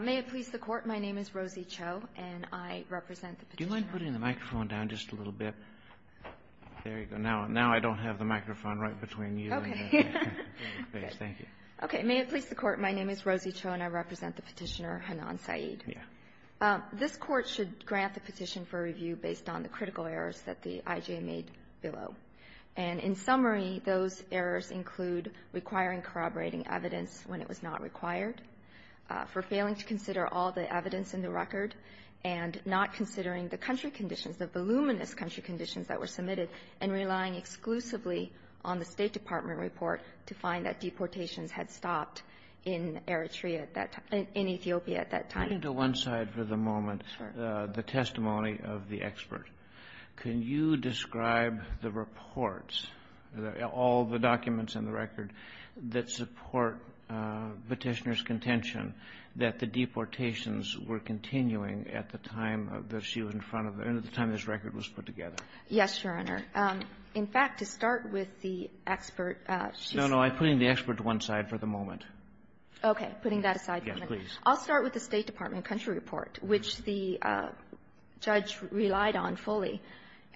May it please the Court, my name is Rosie Cho and I represent the Petitioner Hanan Saeed. This Court should grant the petition for review based on the critical errors that the I.G.A. made below. And in summary, those errors include requiring corroborating evidence when it was not required, for failing to consider all the evidence in the record, and not considering the country conditions, the voluminous country conditions that were submitted, and relying exclusively on the State Department report to find that deportations had stopped in Eritrea at that time, in Ethiopia at that time. Kennedy. Putting to one side for the moment the testimony of the expert, can you describe the reports, all the documents in the record, that support Petitioner's contention that the deportations were continuing at the time that she was in front of the end of the time this record was put together? Yes, Your Honor. In fact, to start with the expert, she's No, no. I'm putting the expert to one side for the moment. Putting that aside for a minute. Yes, please. I'll start with the State Department country report, which the judge relied on fully.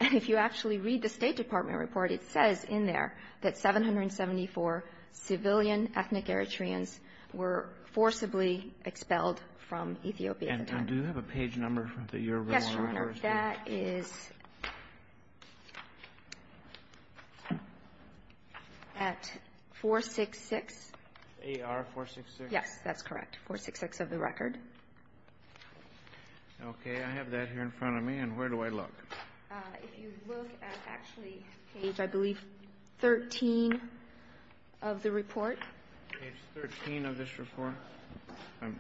And if you actually read the State Department report, it says in there that 774 civilian ethnic Eritreans were forcibly expelled from Ethiopia at the time. And do you have a page number that you're willing to give? Yes, Your Honor. That is at 466. AR-466? Yes, that's correct, 466 of the record. Okay. I have that here in front of me. And where do I look? If you look at actually page, I believe, 13 of the report. Page 13 of this report? Let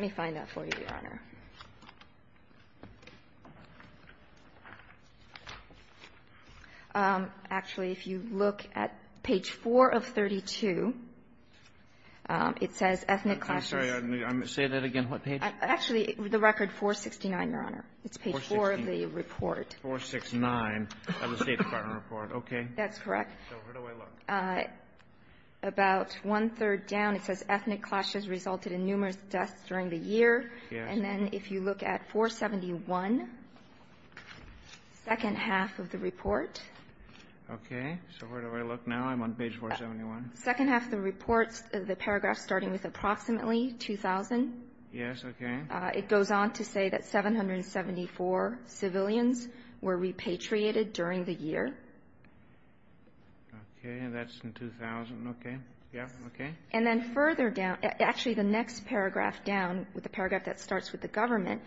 me find that for you, Your Honor. Actually, if you look at page 4 of 32, it says ethnic clashes. I'm sorry. Say that again. What page? Actually, the record 469, Your Honor. It's page 4 of the report. 469 of the State Department report. Okay. That's correct. So where do I look? About one-third down it says ethnic clashes resulted in numerous deaths during the year. Yes. And then if you look at 471, second half of the report. Okay. So where do I look now? I'm on page 471. Second half of the report, the paragraph starting with approximately 2,000. Yes, okay. It goes on to say that 774 civilians were repatriated during the year. Okay. And that's in 2000. Okay. Yes. Okay. And then further down, actually the next paragraph down with the paragraph that starts with the government,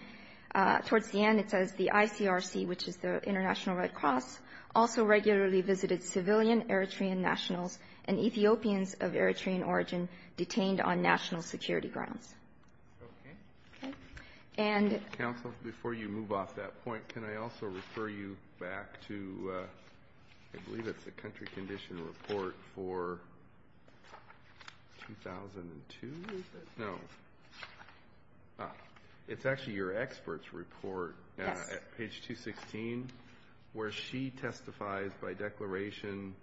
towards the end it says the ICRC, which is the International Red Cross, also regularly visited civilian Eritrean nationals and Ethiopians of Eritrean origin detained on national security grounds. Okay. Okay. And the ---- Counsel, before you move off that point, can I also refer you back to, I believe it's the country condition report for 2002? No. It's actually your expert's report at page 216 where she testifies by declaration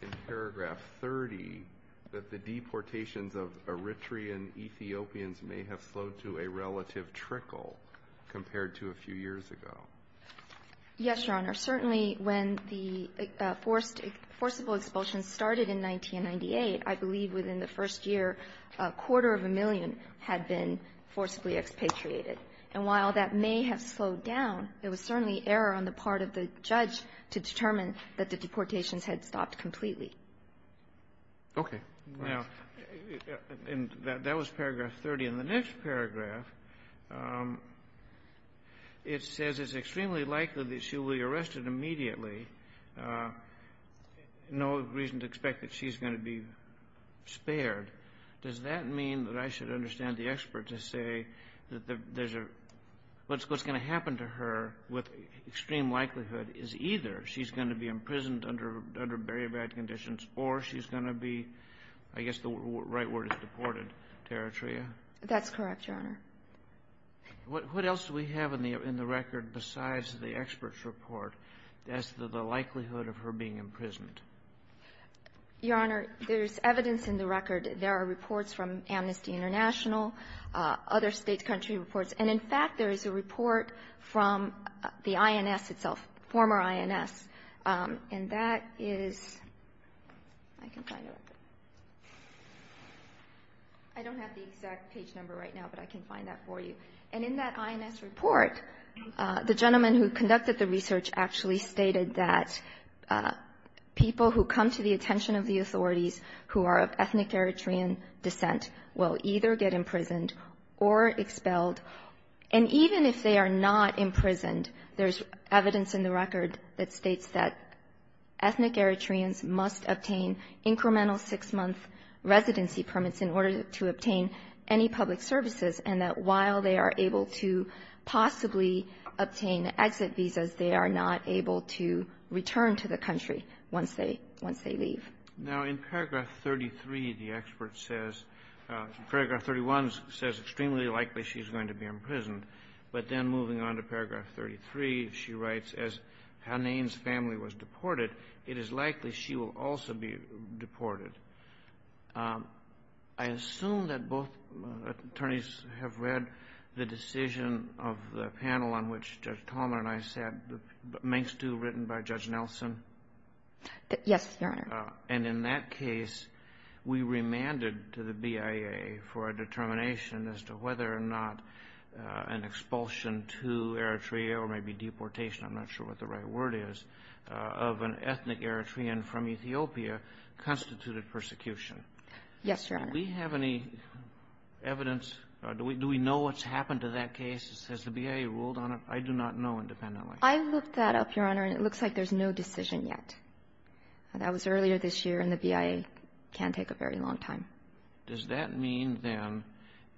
in paragraph 30 that the deportations of Eritrean Ethiopians may have slowed to a relative trickle compared to a few years ago. Yes, Your Honor. Certainly when the forced ---- forcible expulsion started in 1998, I believe within the first year, a quarter of a million had been forcibly expatriated. And while that may have slowed down, there was certainly error on the part of the judge to determine that the deportations had stopped completely. Okay. Now, that was paragraph 30. In the next paragraph, it says it's extremely likely that she will be arrested immediately. No reason to expect that she's going to be spared. Does that mean that I should understand the expert to say that there's a ---- what's going to happen to her with extreme likelihood is either she's going to be imprisoned under very bad conditions or she's going to be, I guess the right word is deported, Territria? That's correct, Your Honor. What else do we have in the record besides the expert's report as to the likelihood of her being imprisoned? Your Honor, there's evidence in the record. There are reports from Amnesty International, other State, country reports. And in fact, there is a report from the INS itself, former INS. And that is ---- I don't have the exact page number right now, but I can find that for you. And in that INS report, the gentleman who conducted the research actually stated that people who come to the attention of the authorities who are of ethnic Eritrean descent will either get imprisoned or expelled. And even if they are not imprisoned, there's evidence in the record that states that ethnic Eritreans must obtain incremental six-month residency permits in order to obtain any public services and that while they are able to possibly obtain exit visas, they are not able to return to the country once they leave. Now, in paragraph 33, the expert says ---- paragraph 31 says extremely likely she's going to be imprisoned. But then moving on to paragraph 33, she writes, as Hanane's family was deported, it is likely she will also be deported. I assume that both attorneys have read the decision of the panel on which Judge Palmer and I sat, the Mengstu written by Judge Nelson? Yes, Your Honor. And in that case, we remanded to the BIA for a determination as to whether or not an expulsion to Eritrea or maybe deportation, I'm not sure what the right word is, of an ethnic Eritrean from Ethiopia constituted persecution. Yes, Your Honor. Do we have any evidence? Do we know what's happened to that case? Has the BIA ruled on it? I do not know independently. I looked that up, Your Honor, and it looks like there's no decision yet. That was earlier this year, and the BIA can take a very long time. Does that mean, then,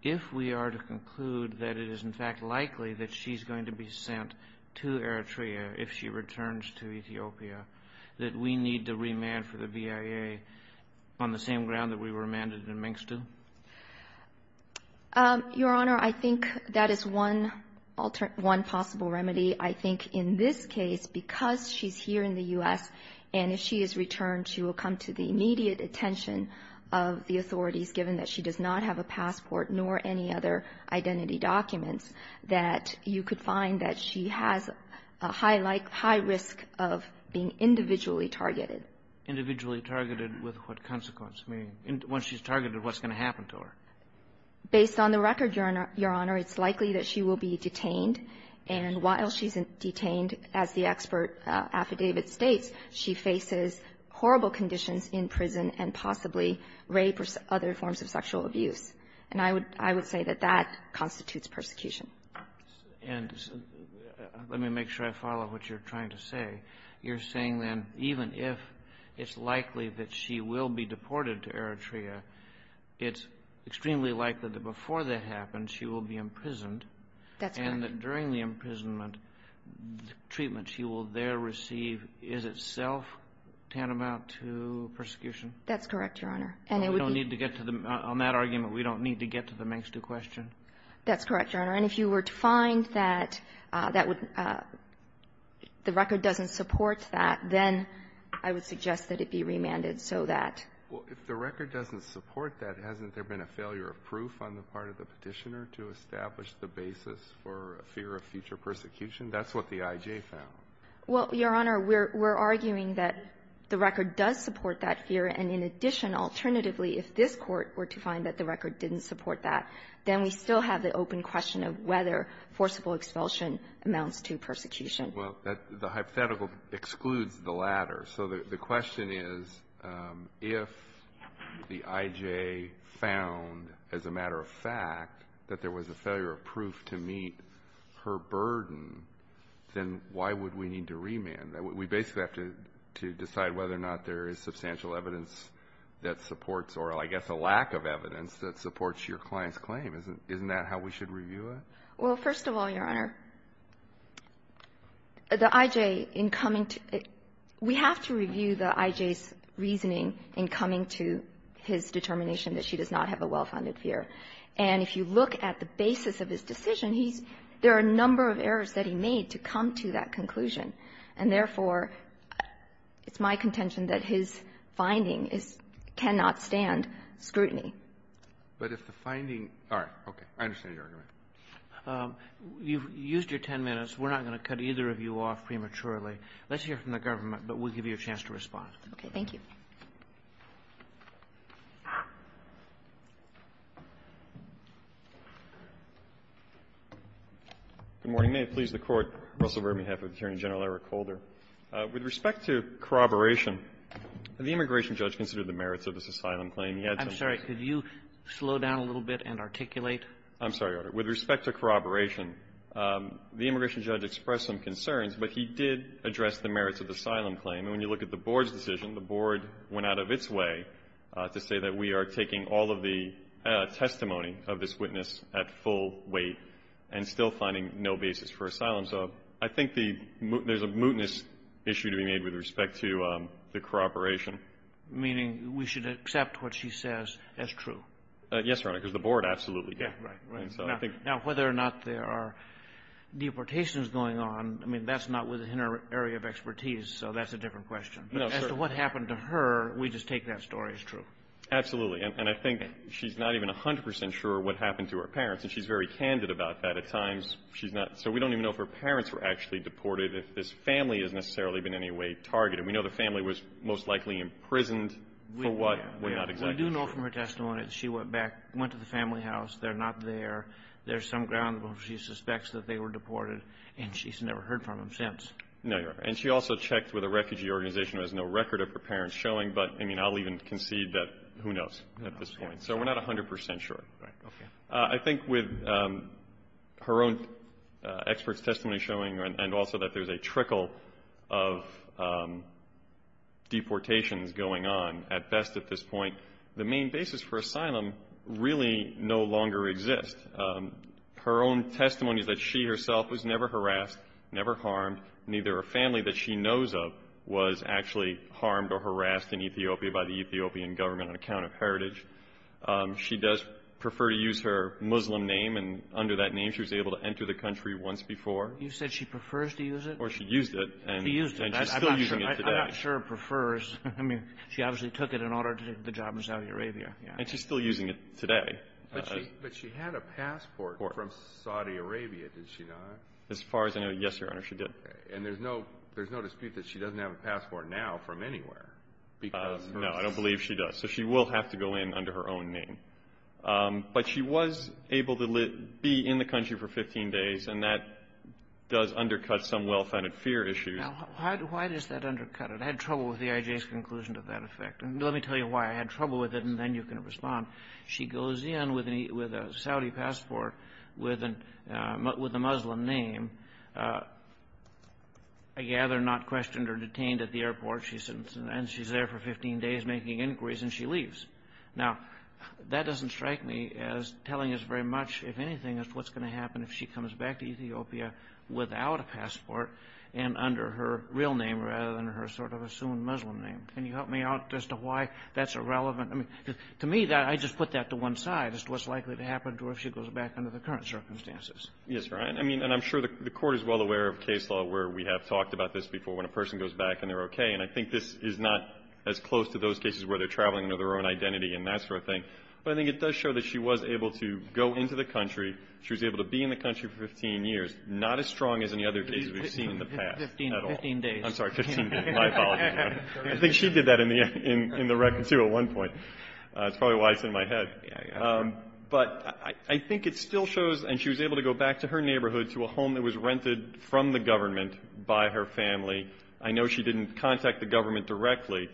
if we are to conclude that it is, in fact, likely that she's going to be sent to Eritrea if she returns to Ethiopia, that we need to remand for the BIA on the same ground that we remanded in Mengstu? Your Honor, I think that is one possible remedy. I think in this case, because she's here in the U.S., and if she is returned, she will come to the immediate attention of the authorities, given that she does not have a passport nor any other identity documents, that you could find that she has a high risk of being individually targeted. Individually targeted with what consequence? I mean, once she's targeted, what's going to happen to her? Based on the record, Your Honor, it's likely that she will be detained, and while she's detained, as the expert affidavit states, she faces horrible conditions in prison and possibly rape or other forms of sexual abuse. And I would say that that constitutes persecution. And let me make sure I follow what you're trying to say. You're saying, then, even if it's likely that she will be deported to Eritrea, it's extremely likely that before that happens, she will be imprisoned. That's correct. And you're saying that during the imprisonment, the treatment she will there receive is itself tantamount to persecution? That's correct, Your Honor. And we don't need to get to the — on that argument, we don't need to get to the makes-do question? That's correct, Your Honor. And if you were to find that that would — the record doesn't support that, then I would suggest that it be remanded so that — Well, if the record doesn't support that, hasn't there been a failure of proof on the part of the Petitioner to establish the basis for a fear of future persecution? That's what the I.J. found. Well, Your Honor, we're arguing that the record does support that fear. And in addition, alternatively, if this Court were to find that the record didn't support that, then we still have the open question of whether forcible expulsion amounts to persecution. Well, the hypothetical excludes the latter. So the question is, if the I.J. found, as a matter of fact, that there was a failure of proof to meet her burden, then why would we need to remand? We basically have to decide whether or not there is substantial evidence that supports or, I guess, a lack of evidence that supports your client's claim. Isn't that how we should review it? Well, first of all, Your Honor, the I.J. in coming to — we have to review the I.J.'s reasoning in coming to his determination that she does not have a well-founded fear. And if you look at the basis of his decision, he's — there are a number of errors that he made to come to that conclusion. And therefore, it's my contention that his finding is — cannot stand scrutiny. But if the finding — all right. Okay. I understand your argument. You've used your 10 minutes. We're not going to cut either of you off prematurely. Let's hear from the government, but we'll give you a chance to respond. Okay. Thank you. Good morning. May it please the Court. Russell, we're on behalf of Attorney General Eric Holder. With respect to corroboration, the immigration judge considered the merits of this asylum claim. I'm sorry. Could you slow down a little bit and articulate? I'm sorry, Your Honor. With respect to corroboration, the immigration judge expressed some concerns, but he did address the merits of the asylum claim. And when you look at the Board's decision, the Board went out of its way to say that we are taking all of the testimony of this witness at full weight and still finding no basis for asylum. So I think the — there's a mootness issue to be made with respect to the corroboration. Meaning we should accept what she says as true. Yes, Your Honor, because the Board absolutely did. Right. Right. And so I think — Now, whether or not there are deportations going on, I mean, that's not within our area of expertise, so that's a different question. But as to what happened to her, we just take that story as true. Absolutely. And I think she's not even 100 percent sure what happened to her parents. And she's very candid about that. At times, she's not — so we don't even know if her parents were actually deported, if this family has necessarily been in any way targeted. We know the family was most likely imprisoned for what we're not exactly sure. We do know from her testimony that she went back — went to the family house. They're not there. There's some ground where she suspects that they were deported, and she's never heard from them since. No, Your Honor. And she also checked with a refugee organization who has no record of her parents showing, but, I mean, I'll even concede that — who knows at this point. So we're not 100 percent sure. Right. Okay. I think with her own expert's testimony showing, and also that there's a trickle of deportations going on at best at this point, the main basis for asylum really no longer exists. Her own testimony is that she herself was never harassed, never harmed. Neither a family that she knows of was actually harmed or harassed in Ethiopia by the Ethiopian government on account of heritage. She does prefer to use her Muslim name, and under that name, she was able to enter the country once before. You said she prefers to use it? Or she used it. She used it. And she's still using it today. I'm not sure it prefers — I mean, she obviously took it in order to do the job in Saudi Arabia. Yeah. And she's still using it today. But she had a passport from Saudi Arabia, did she not? As far as I know, yes, Your Honor, she did. Okay. And there's no dispute that she doesn't have a passport now from anywhere because of her — No, I don't believe she does. So she will have to go in under her own name. But she was able to be in the country for 15 days, and that does undercut some well-founded fear issues. Now, why does that undercut it? I had trouble with the IJ's conclusion to that effect. And let me tell you why I had trouble with it, and then you can respond. She goes in with a Saudi passport with a Muslim name, I gather not questioned or detained at the airport, and she's there for 15 days making inquiries, and she leaves. Now, that doesn't strike me as telling us very much, if anything, as to what's going to happen if she comes back to Ethiopia without a passport and under her real name rather than her sort of assumed Muslim name. Can you help me out as to why that's irrelevant? I mean, to me, I just put that to one side, as to what's likely to happen to her if she goes back under the current circumstances. Yes, Your Honor. I mean, and I'm sure the Court is well aware of case law where we have talked about this before, when a person goes back and they're okay. And I think this is not as close to those cases where they're traveling under their own identity and that sort of thing. But I think it does show that she was able to go into the country, she was able to be in the country for 15 years, not as strong as any other case we've seen in the past at all. Fifteen days. I'm sorry, 15 days. My apologies, Your Honor. I think she did that in the record, too, at one point. That's probably why it's in my head. But I think it still shows, and she was able to go back to her neighborhood, to a home that was rented from the government by her family. I know she didn't contact the government directly,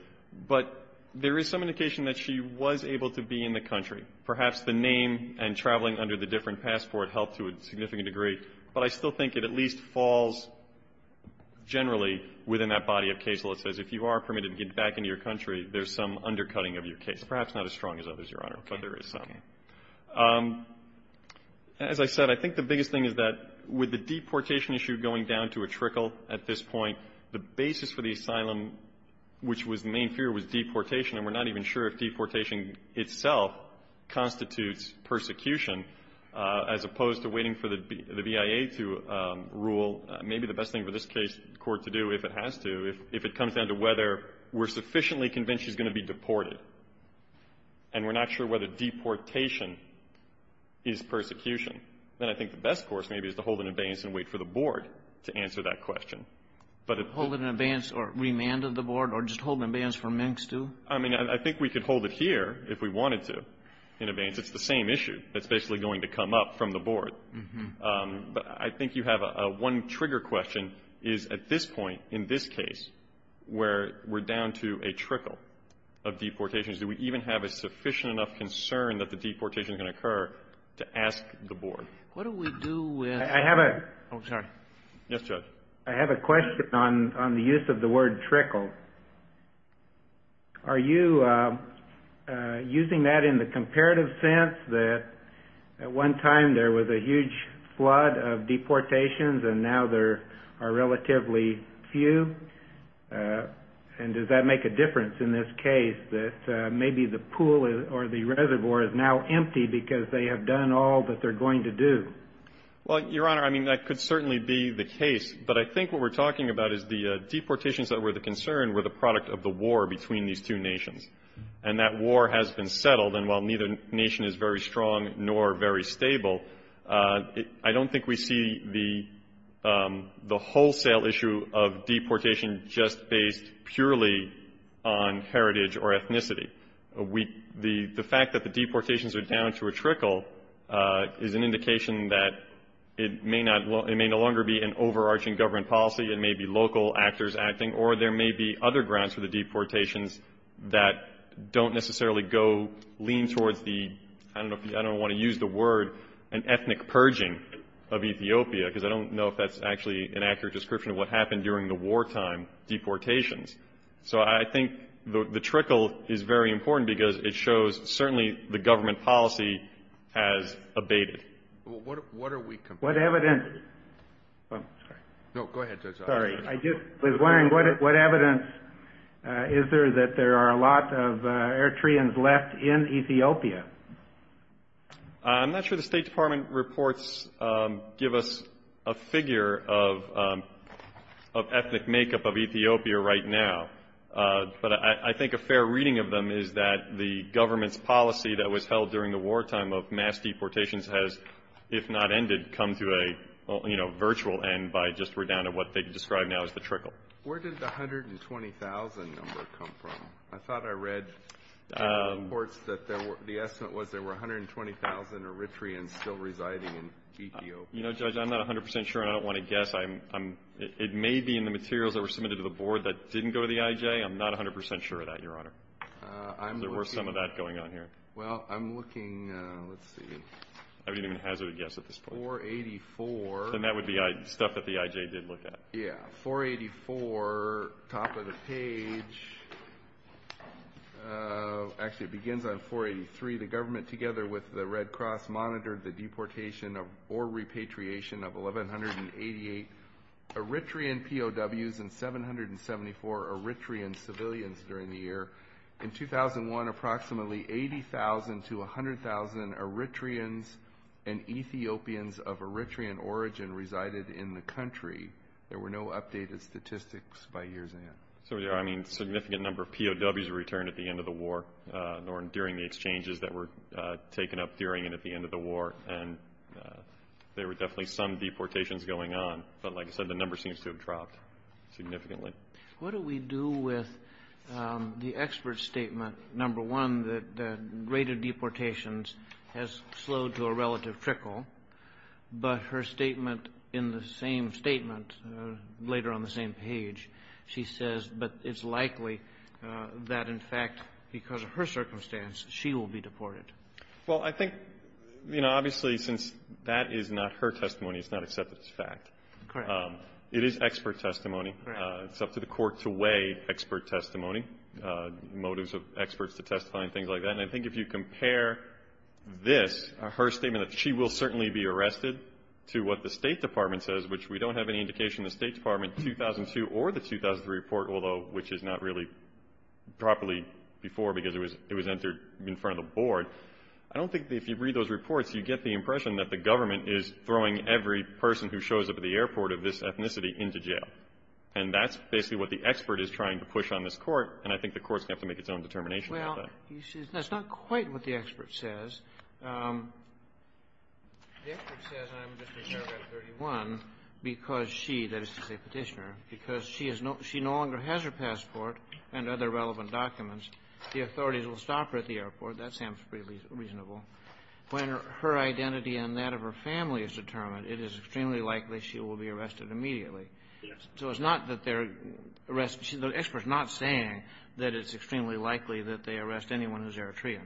but there is some indication that she was able to be in the country. Perhaps the name and traveling under the different passport helped to a significant degree. But I still think it at least falls generally within that body of case law that says if you are permitted to get back into your country, there's some undercutting of your case, perhaps not as strong as others, Your Honor, but there is some. As I said, I think the biggest thing is that with the deportation issue going down to a trickle at this point, the basis for the asylum, which was the main fear, was deportation. And we're not even sure if deportation itself constitutes persecution, as opposed to waiting for the BIA to rule. Maybe the best thing for this case court to do, if it has to, if it comes down to whether we're sufficiently convinced she's going to be deported, and we're not sure whether deportation is persecution, then I think the best course maybe is to hold an abeyance and wait for the Board to answer that question. Hold an abeyance or remand of the Board, or just hold an abeyance for Minx, too? I mean, I think we could hold it here if we wanted to in abeyance. It's the same issue that's basically going to come up from the Board. But I think you have a one-trigger question is at this point in this case where we're down to a trickle of deportations, do we even have a sufficient enough concern that the deportation is going to occur to ask the Board? What do we do with the Board? Yes, Judge. I have a question on the use of the word trickle. Are you using that in the comparative sense that at one time there was a huge flood of deportations, and now there are relatively few? And does that make a difference in this case that maybe the pool or the reservoir is now empty because they have done all that they're going to do? Well, Your Honor, I mean, that could certainly be the case. But I think what we're talking about is the deportations that were the concern were the product of the war between these two nations. And that war has been settled. And while neither nation is very strong nor very stable, I don't think we see the wholesale issue of deportation just based purely on heritage or ethnicity. The fact that the deportations are down to a trickle is an indication that it may no longer be an overarching government policy. It may be local actors acting. Or there may be other grounds for the deportations that don't necessarily go lean towards the, I don't want to use the word, an ethnic purging of Ethiopia. Because I don't know if that's actually an accurate description of what happened during the wartime deportations. So I think the trickle is very important because it shows certainly the government policy has abated. What are we complaining about? What evidence? I'm sorry. No, go ahead. Sorry. I just was wondering, what evidence is there that there are a lot of Eritreans left in Ethiopia? I'm not sure the State Department reports give us a figure of ethnic makeup of Ethiopia right now. But I think a fair reading of them is that the government's policy that was during the wartime of mass deportations has, if not ended, come to a virtual end by just down to what they describe now as the trickle. Where did the 120,000 number come from? I thought I read reports that the estimate was there were 120,000 Eritreans still residing in Ethiopia. You know, Judge, I'm not 100% sure and I don't want to guess. It may be in the materials that were submitted to the board that didn't go to the IJ. I'm not 100% sure of that, Your Honor. There were some of that going on here. Well, I'm looking, let's see. I wouldn't even hazard a guess at this point. 484. Then that would be stuff that the IJ did look at. Yeah. 484, top of the page. Actually, it begins on 483. The government, together with the Red Cross, monitored the deportation or repatriation of 1,188 Eritrean POWs and 774 Eritrean civilians during the year. In 2001, approximately 80,000 to 100,000 Eritreans and Ethiopians of Eritrean origin resided in the country. There were no updated statistics by years in. So, yeah, I mean, a significant number of POWs returned at the end of the war or during the exchanges that were taken up during and at the end of the war. And there were definitely some deportations going on. But like I said, the number seems to have dropped significantly. What do we do with the expert statement, number one, that the rate of deportations has slowed to a relative trickle, but her statement in the same statement, later on the same page, she says, but it's likely that, in fact, because of her circumstance, she will be deported. Well, I think, you know, obviously, since that is not her testimony, it's not accepted as fact. Correct. It is expert testimony. Correct. It's up to the court to weigh expert testimony, motives of experts to testify and things like that. And I think if you compare this, her statement that she will certainly be arrested, to what the State Department says, which we don't have any indication in the State Department, 2002 or the 2003 report, although which is not really properly before because it was entered in front of the board. I don't think that if you read those reports, you get the impression that the government is throwing every person who shows up at the airport of this ethnicity into jail. And that's basically what the expert is trying to push on this Court. And I think the Court's going to have to make its own determination about that. Well, that's not quite what the expert says. The expert says, I'm just going to serve at 31 because she, that is to say Petitioner, because she has no – she no longer has her passport and other relevant documents. The authorities will stop her at the airport. That sounds pretty reasonable. When her identity and that of her family is determined, it is extremely likely she will be arrested immediately. So it's not that they're arresting – the expert's not saying that it's extremely likely that they arrest anyone who's Eritrean.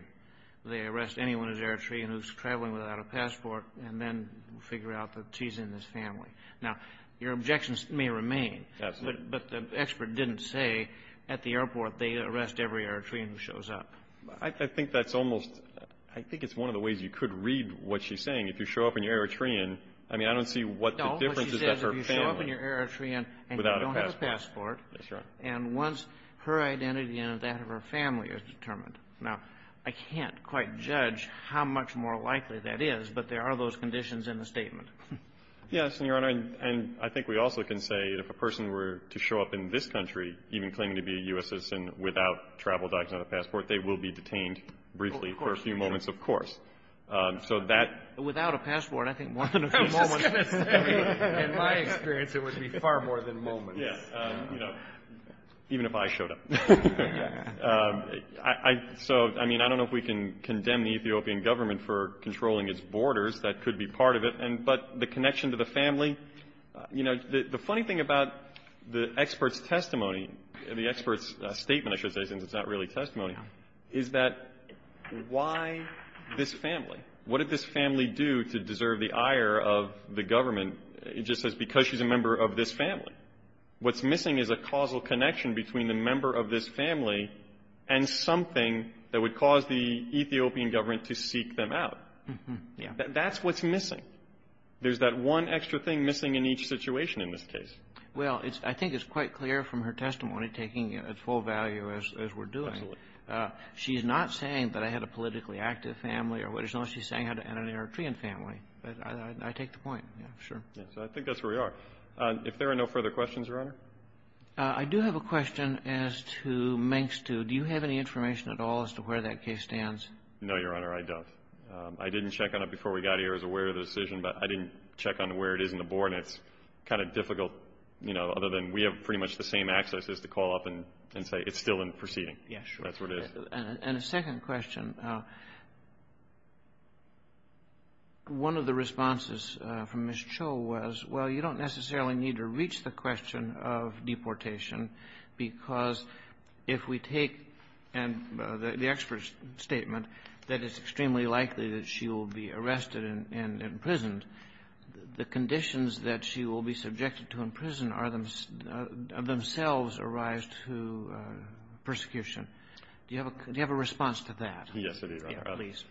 They arrest anyone who's Eritrean who's traveling without a passport and then figure out that she's in this family. Now, your objections may remain. Absolutely. But the expert didn't say at the airport they arrest every Eritrean who shows up. I think that's almost – I think it's one of the ways you could read what she's saying. If you show up and you're Eritrean, I mean, I don't see what the difference is that her family – If you show up and you're Eritrean and you don't have a passport, and once her identity and that of her family is determined. Now, I can't quite judge how much more likely that is, but there are those conditions in the statement. Yes, and, Your Honor, and I think we also can say if a person were to show up in this country, even claiming to be a U.S. citizen, without travel documents and a passport, they will be detained briefly for a few moments, of course. So that – Without a passport, I think more than a few moments. In my experience, it would be far more than moments. Yes. You know, even if I showed up. So, I mean, I don't know if we can condemn the Ethiopian government for controlling its borders. That could be part of it. But the connection to the family – you know, the funny thing about the expert's testimony, the expert's statement, I should say, since it's not really testimony, is that why this family? What did this family do to deserve the ire of the government? It just says because she's a member of this family. What's missing is a causal connection between the member of this family and something that would cause the Ethiopian government to seek them out. Mm-hmm. Yeah. That's what's missing. There's that one extra thing missing in each situation in this case. Well, it's – I think it's quite clear from her testimony, taking at full value as we're doing. Absolutely. She's not saying that I had a politically active family or what is known. She's saying I had an Eritrean family. But I take the point. Yeah, sure. Yeah. So I think that's where we are. If there are no further questions, Your Honor? I do have a question as to Mengstu. Do you have any information at all as to where that case stands? No, Your Honor, I don't. I didn't check on it before we got here. I was aware of the decision, but I didn't check on where it is in the board. And it's kind of difficult, you know, other than we have pretty much the same access as to call up and say it's still in proceeding. Yeah, sure. That's where it is. And a second question. One of the responses from Ms. Cho was, well, you don't necessarily need to reach the question of deportation because if we take – and the expert's statement that it's extremely likely that she will be arrested and imprisoned, the conditions that she will be subjected to in prison are themselves a rise to persecution. Do you have a response to that? Yes, I do, Your Honor. Yeah, please.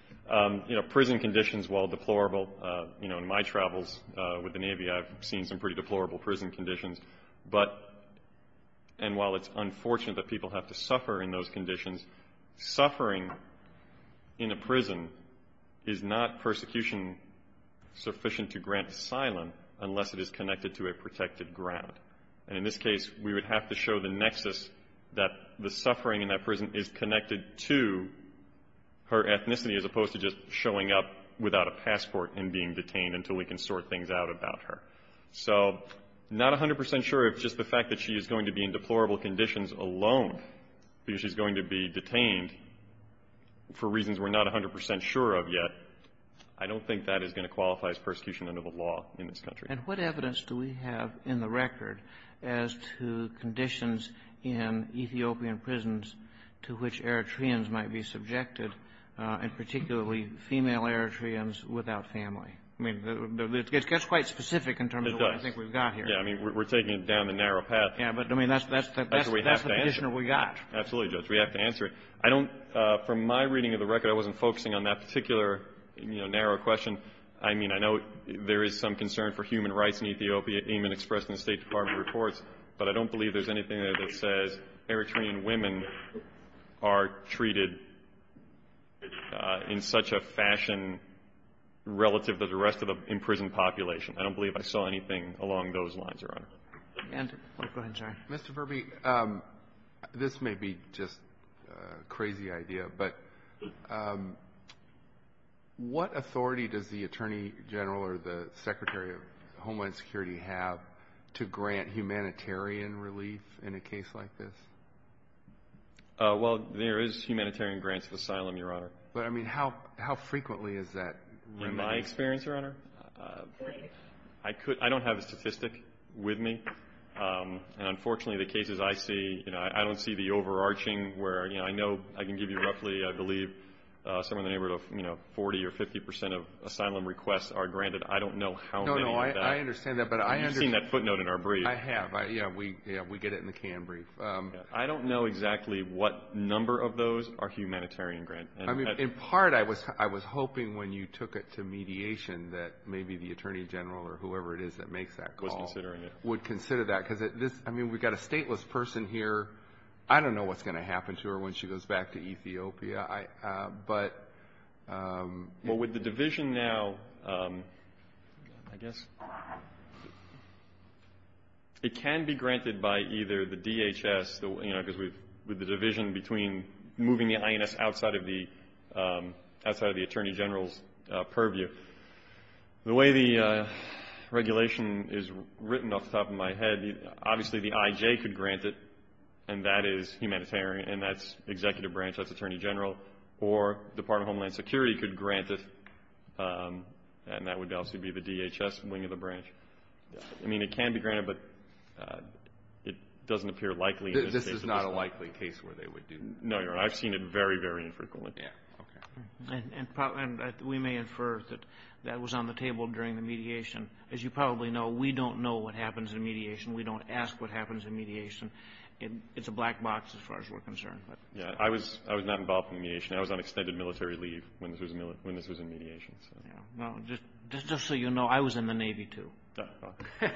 You know, prison conditions, while deplorable – you know, in my travels with the Navy, I've seen some pretty deplorable prison conditions. But – and while it's unfortunate that people have to suffer in those conditions, suffering in a prison is not persecution sufficient to grant asylum unless it is connected to a protected ground. And in this case, we would have to show the nexus that the suffering in that prison is connected to her ethnicity as opposed to just showing up without a passport and being detained until we can sort things out about her. So I'm not 100 percent sure if just the fact that she is going to be in deplorable conditions alone because she's going to be detained for reasons we're not 100 percent sure of yet, I don't think that is going to qualify as persecution under the law in this country. And what evidence do we have in the record as to conditions in Ethiopian prisons to which Eritreans might be subjected, and particularly female Eritreans without family? I mean, it gets quite specific in terms of what I think we've got here. Yeah. I mean, we're taking it down the narrow path. Yeah. But, I mean, that's the – that's the conditioner we got. Absolutely, Judge. We have to answer it. I don't – from my reading of the record, I wasn't focusing on that particular, you know, narrow question. I mean, I know there is some concern for human rights in Ethiopia, even expressed in the State Department reports. But I don't believe there's anything there that says Eritrean women are treated in such a fashion relative to the rest of the imprisoned population. I don't believe I saw anything along those lines, Your Honor. And – oh, go ahead, sorry. Mr. Verby, this may be just a crazy idea, but what authority does the Attorney General or the Secretary of Homeland Security have to grant humanitarian relief in a case like this? Well, there is humanitarian grants of asylum, Your Honor. But, I mean, how frequently is that? In my experience, Your Honor, I could – I don't have a statistic with me. And, unfortunately, the cases I see, you know, I don't see the overarching where, you know, I know – I can give you roughly, I believe, somewhere in the neighborhood of, you know, 40 or 50 percent of asylum requests are granted. I don't know how many of that. No, no, I understand that. But I understand – You've seen that footnote in our brief. I have. Yeah, we get it in the canned brief. I don't know exactly what number of those are humanitarian grants. I mean, in part, I was hoping when you took it to mediation that maybe the Attorney General or whoever it is that makes that call – Was considering it. – would consider that. Because this – I mean, we've got a stateless person here. I don't know what's going to happen to her when she goes back to Ethiopia. But – Well, with the division now, I guess, it can be granted by either the DHS, you know, because we've – with the division between moving the INS outside of the Attorney General's purview. But the way the regulation is written off the top of my head, obviously, the IJ could grant it, and that is humanitarian. And that's executive branch. That's Attorney General. Or Department of Homeland Security could grant it, and that would obviously be the DHS wing of the branch. I mean, it can be granted, but it doesn't appear likely in this case. This is not a likely case where they would do – No, Your Honor. I've seen it very, very infrequently. Yeah. Okay. And we may infer that that was on the table during the mediation. As you probably know, we don't know what happens in mediation. We don't ask what happens in mediation. It's a black box as far as we're concerned. Yeah. I was not involved in mediation. I was on extended military leave when this was in mediation. Yeah. Well, just so you know, I was in the Navy, too. Oh, okay.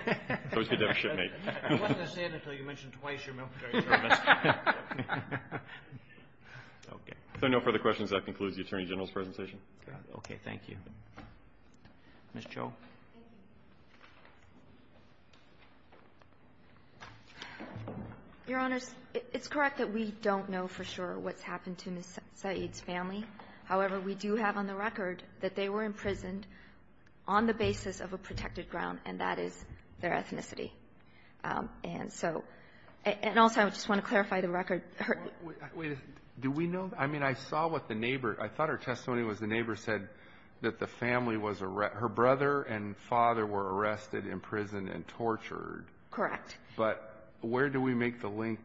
I was cadet shipmate. It wasn't a sin until you mentioned twice your military service. Okay. If there are no further questions, that concludes the Attorney General's presentation. Okay. Thank you. Ms. Cho. Thank you. Your Honors, it's correct that we don't know for sure what's happened to Ms. Saeed's family. However, we do have on the record that they were imprisoned on the basis of a protected ground, and that is their ethnicity. And so – and also, I just want to clarify the record. Wait a second. Do we know? I mean, I saw what the neighbor – I thought her testimony was the neighbor said that the family was – her brother and father were arrested, imprisoned, and tortured. Correct. But where do we make the link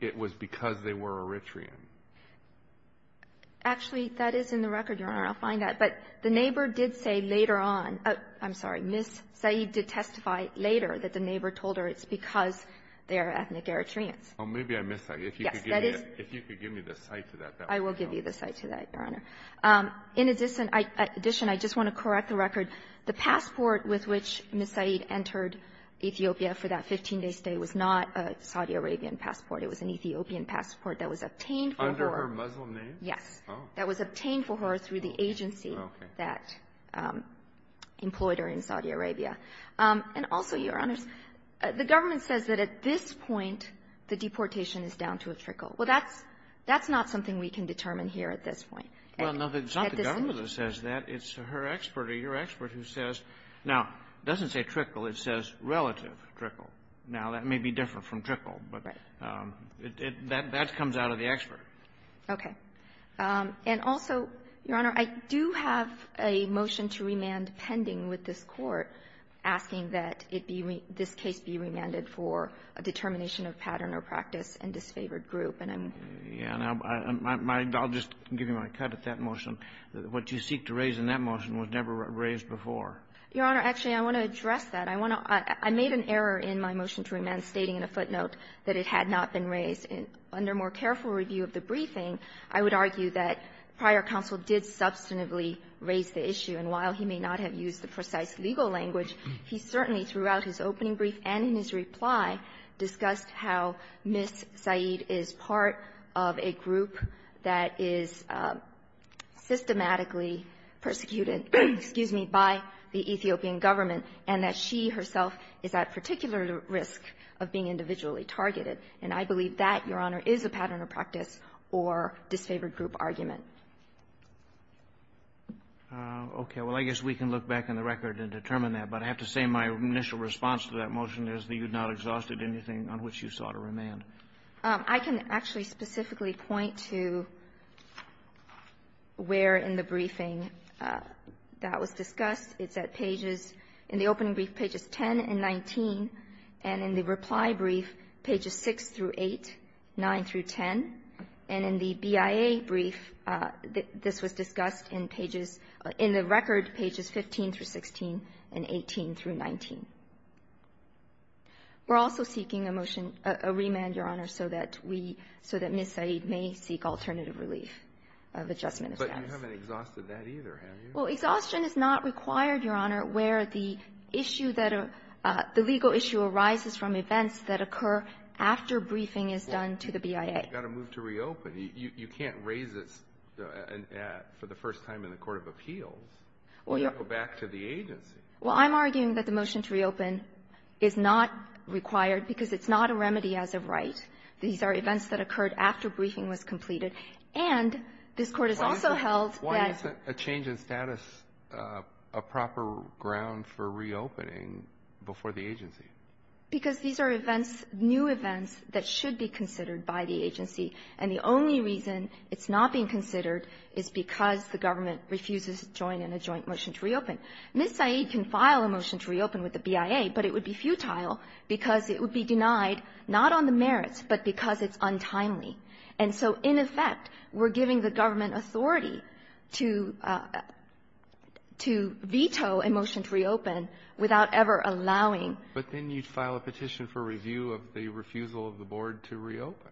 it was because they were Eritrean? Actually, that is in the record, Your Honor. I'll find that. But the neighbor did say later on – I'm sorry. Ms. Saeed did testify later that the neighbor told her it's because they are ethnic Eritreans. Oh, maybe I missed that. If you could give me the cite to that. I will give you the cite to that, Your Honor. In addition, I just want to correct the record. The passport with which Ms. Saeed entered Ethiopia for that 15-day stay was not a Saudi Arabian passport. It was an Ethiopian passport that was obtained for her. Under her Muslim name? Yes. Oh. That was obtained for her through the agency that employed her in Saudi Arabia. And also, Your Honors, the government says that at this point the deportation is down to a trickle. Well, that's not something we can determine here at this point. Well, no, it's not the government that says that. It's her expert or your expert who says – now, it doesn't say trickle. It says relative trickle. Now, that may be different from trickle, but that comes out of the expert. Okay. And also, Your Honor, I do have a motion to remand pending with this Court asking that it be – this case be remanded for a determination of pattern or practice and disfavored group, and I'm – Yeah. Now, I'll just give you my cut at that motion. What you seek to raise in that motion was never raised before. Your Honor, actually, I want to address that. I want to – I made an error in my motion to remand stating in a footnote that it had not been raised. Under more careful review of the briefing, I would argue that prior counsel did substantively raise the issue. And while he may not have used the precise legal language, he certainly, throughout his opening brief and in his reply, discussed how Ms. Saeed is part of a group that is systematically persecuted – excuse me – by the Ethiopian government and that she herself is at particular risk of being individually targeted. And I believe that, Your Honor, is a pattern of practice or disfavored group argument. Okay. Well, I guess we can look back in the record and determine that. But I have to say my initial response to that motion is that you have not exhausted anything on which you sought a remand. I can actually specifically point to where in the briefing that was discussed. It's at pages – in the opening brief, pages 10 and 19, and in the reply brief, pages 6 through 8, 9 through 10. And in the BIA brief, this was discussed in pages – in the record, pages 15 through 16 and 18 through 19. We're also seeking a motion – a remand, Your Honor, so that we – so that Ms. Saeed may seek alternative relief of adjustment of status. But you haven't exhausted that either, have you? Well, exhaustion is not required, Your Honor, where the issue that – the legal issue arises from events that occur after briefing is done to the BIA. Well, you've got to move to reopen. You can't raise this for the first time in the court of appeals. Well, you have to go back to the agency. Well, I'm arguing that the motion to reopen is not required because it's not a remedy as of right. These are events that occurred after briefing was completed. And this Court has also held that – Why isn't adjustment status a proper ground for reopening before the agency? Because these are events – new events that should be considered by the agency. And the only reason it's not being considered is because the government refuses to join in a joint motion to reopen. Ms. Saeed can file a motion to reopen with the BIA, but it would be futile because it would be denied not on the merits, but because it's untimely. And so, in effect, we're giving the government authority to – to veto a motion to reopen without ever allowing – But then you'd file a petition for review of the refusal of the board to reopen.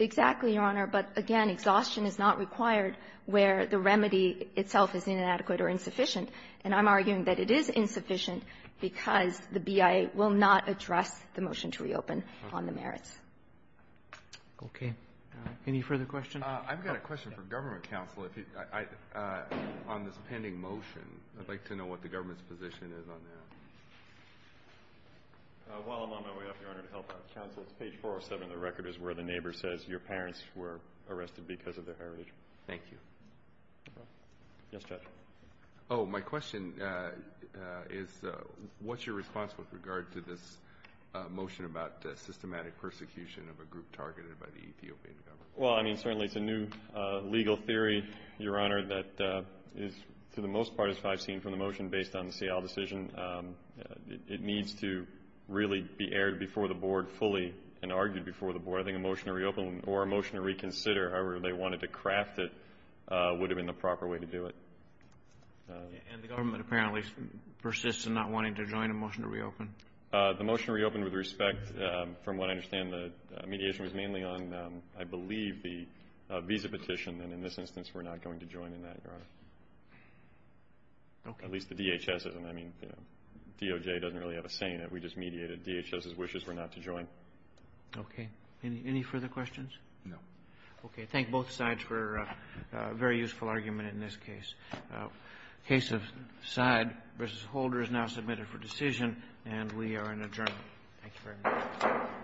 Exactly, Your Honor. But, again, exhaustion is not required where the remedy itself is inadequate or insufficient. And I'm arguing that it is insufficient because the BIA will not address the motion to reopen on the merits. Okay. Any further questions? I've got a question for Government Counsel. On this pending motion, I'd like to know what the government's position is on that. While I'm on my way up, Your Honor, to help out counsel, it's page 407 of the record. It's where the neighbor says your parents were arrested because of their heritage. Thank you. Yes, Judge. Oh, my question is what's your response with regard to this motion about systematic persecution of a group targeted by the Ethiopian government? Well, I mean, certainly it's a new legal theory, Your Honor, that is, for the most part, as far as I've seen from the motion, based on the Seattle decision. It needs to really be aired before the board fully and argued before the board. I think a motion to reopen or a motion to reconsider, however they wanted to craft it, would have been the proper way to do it. The motion reopened with respect, from what I understand, the mediation was mainly on, I believe, the visa petition. And in this instance, we're not going to join in that, Your Honor. Okay. At least the DHS isn't. I mean, DOJ doesn't really have a say in it. We just mediated DHS's wishes for not to join. Okay. Any further questions? No. Okay. Thank both sides for a very useful argument in this case. The case of Side v. Holder is now submitted for decision. And we are in adjournment. Thank you very much.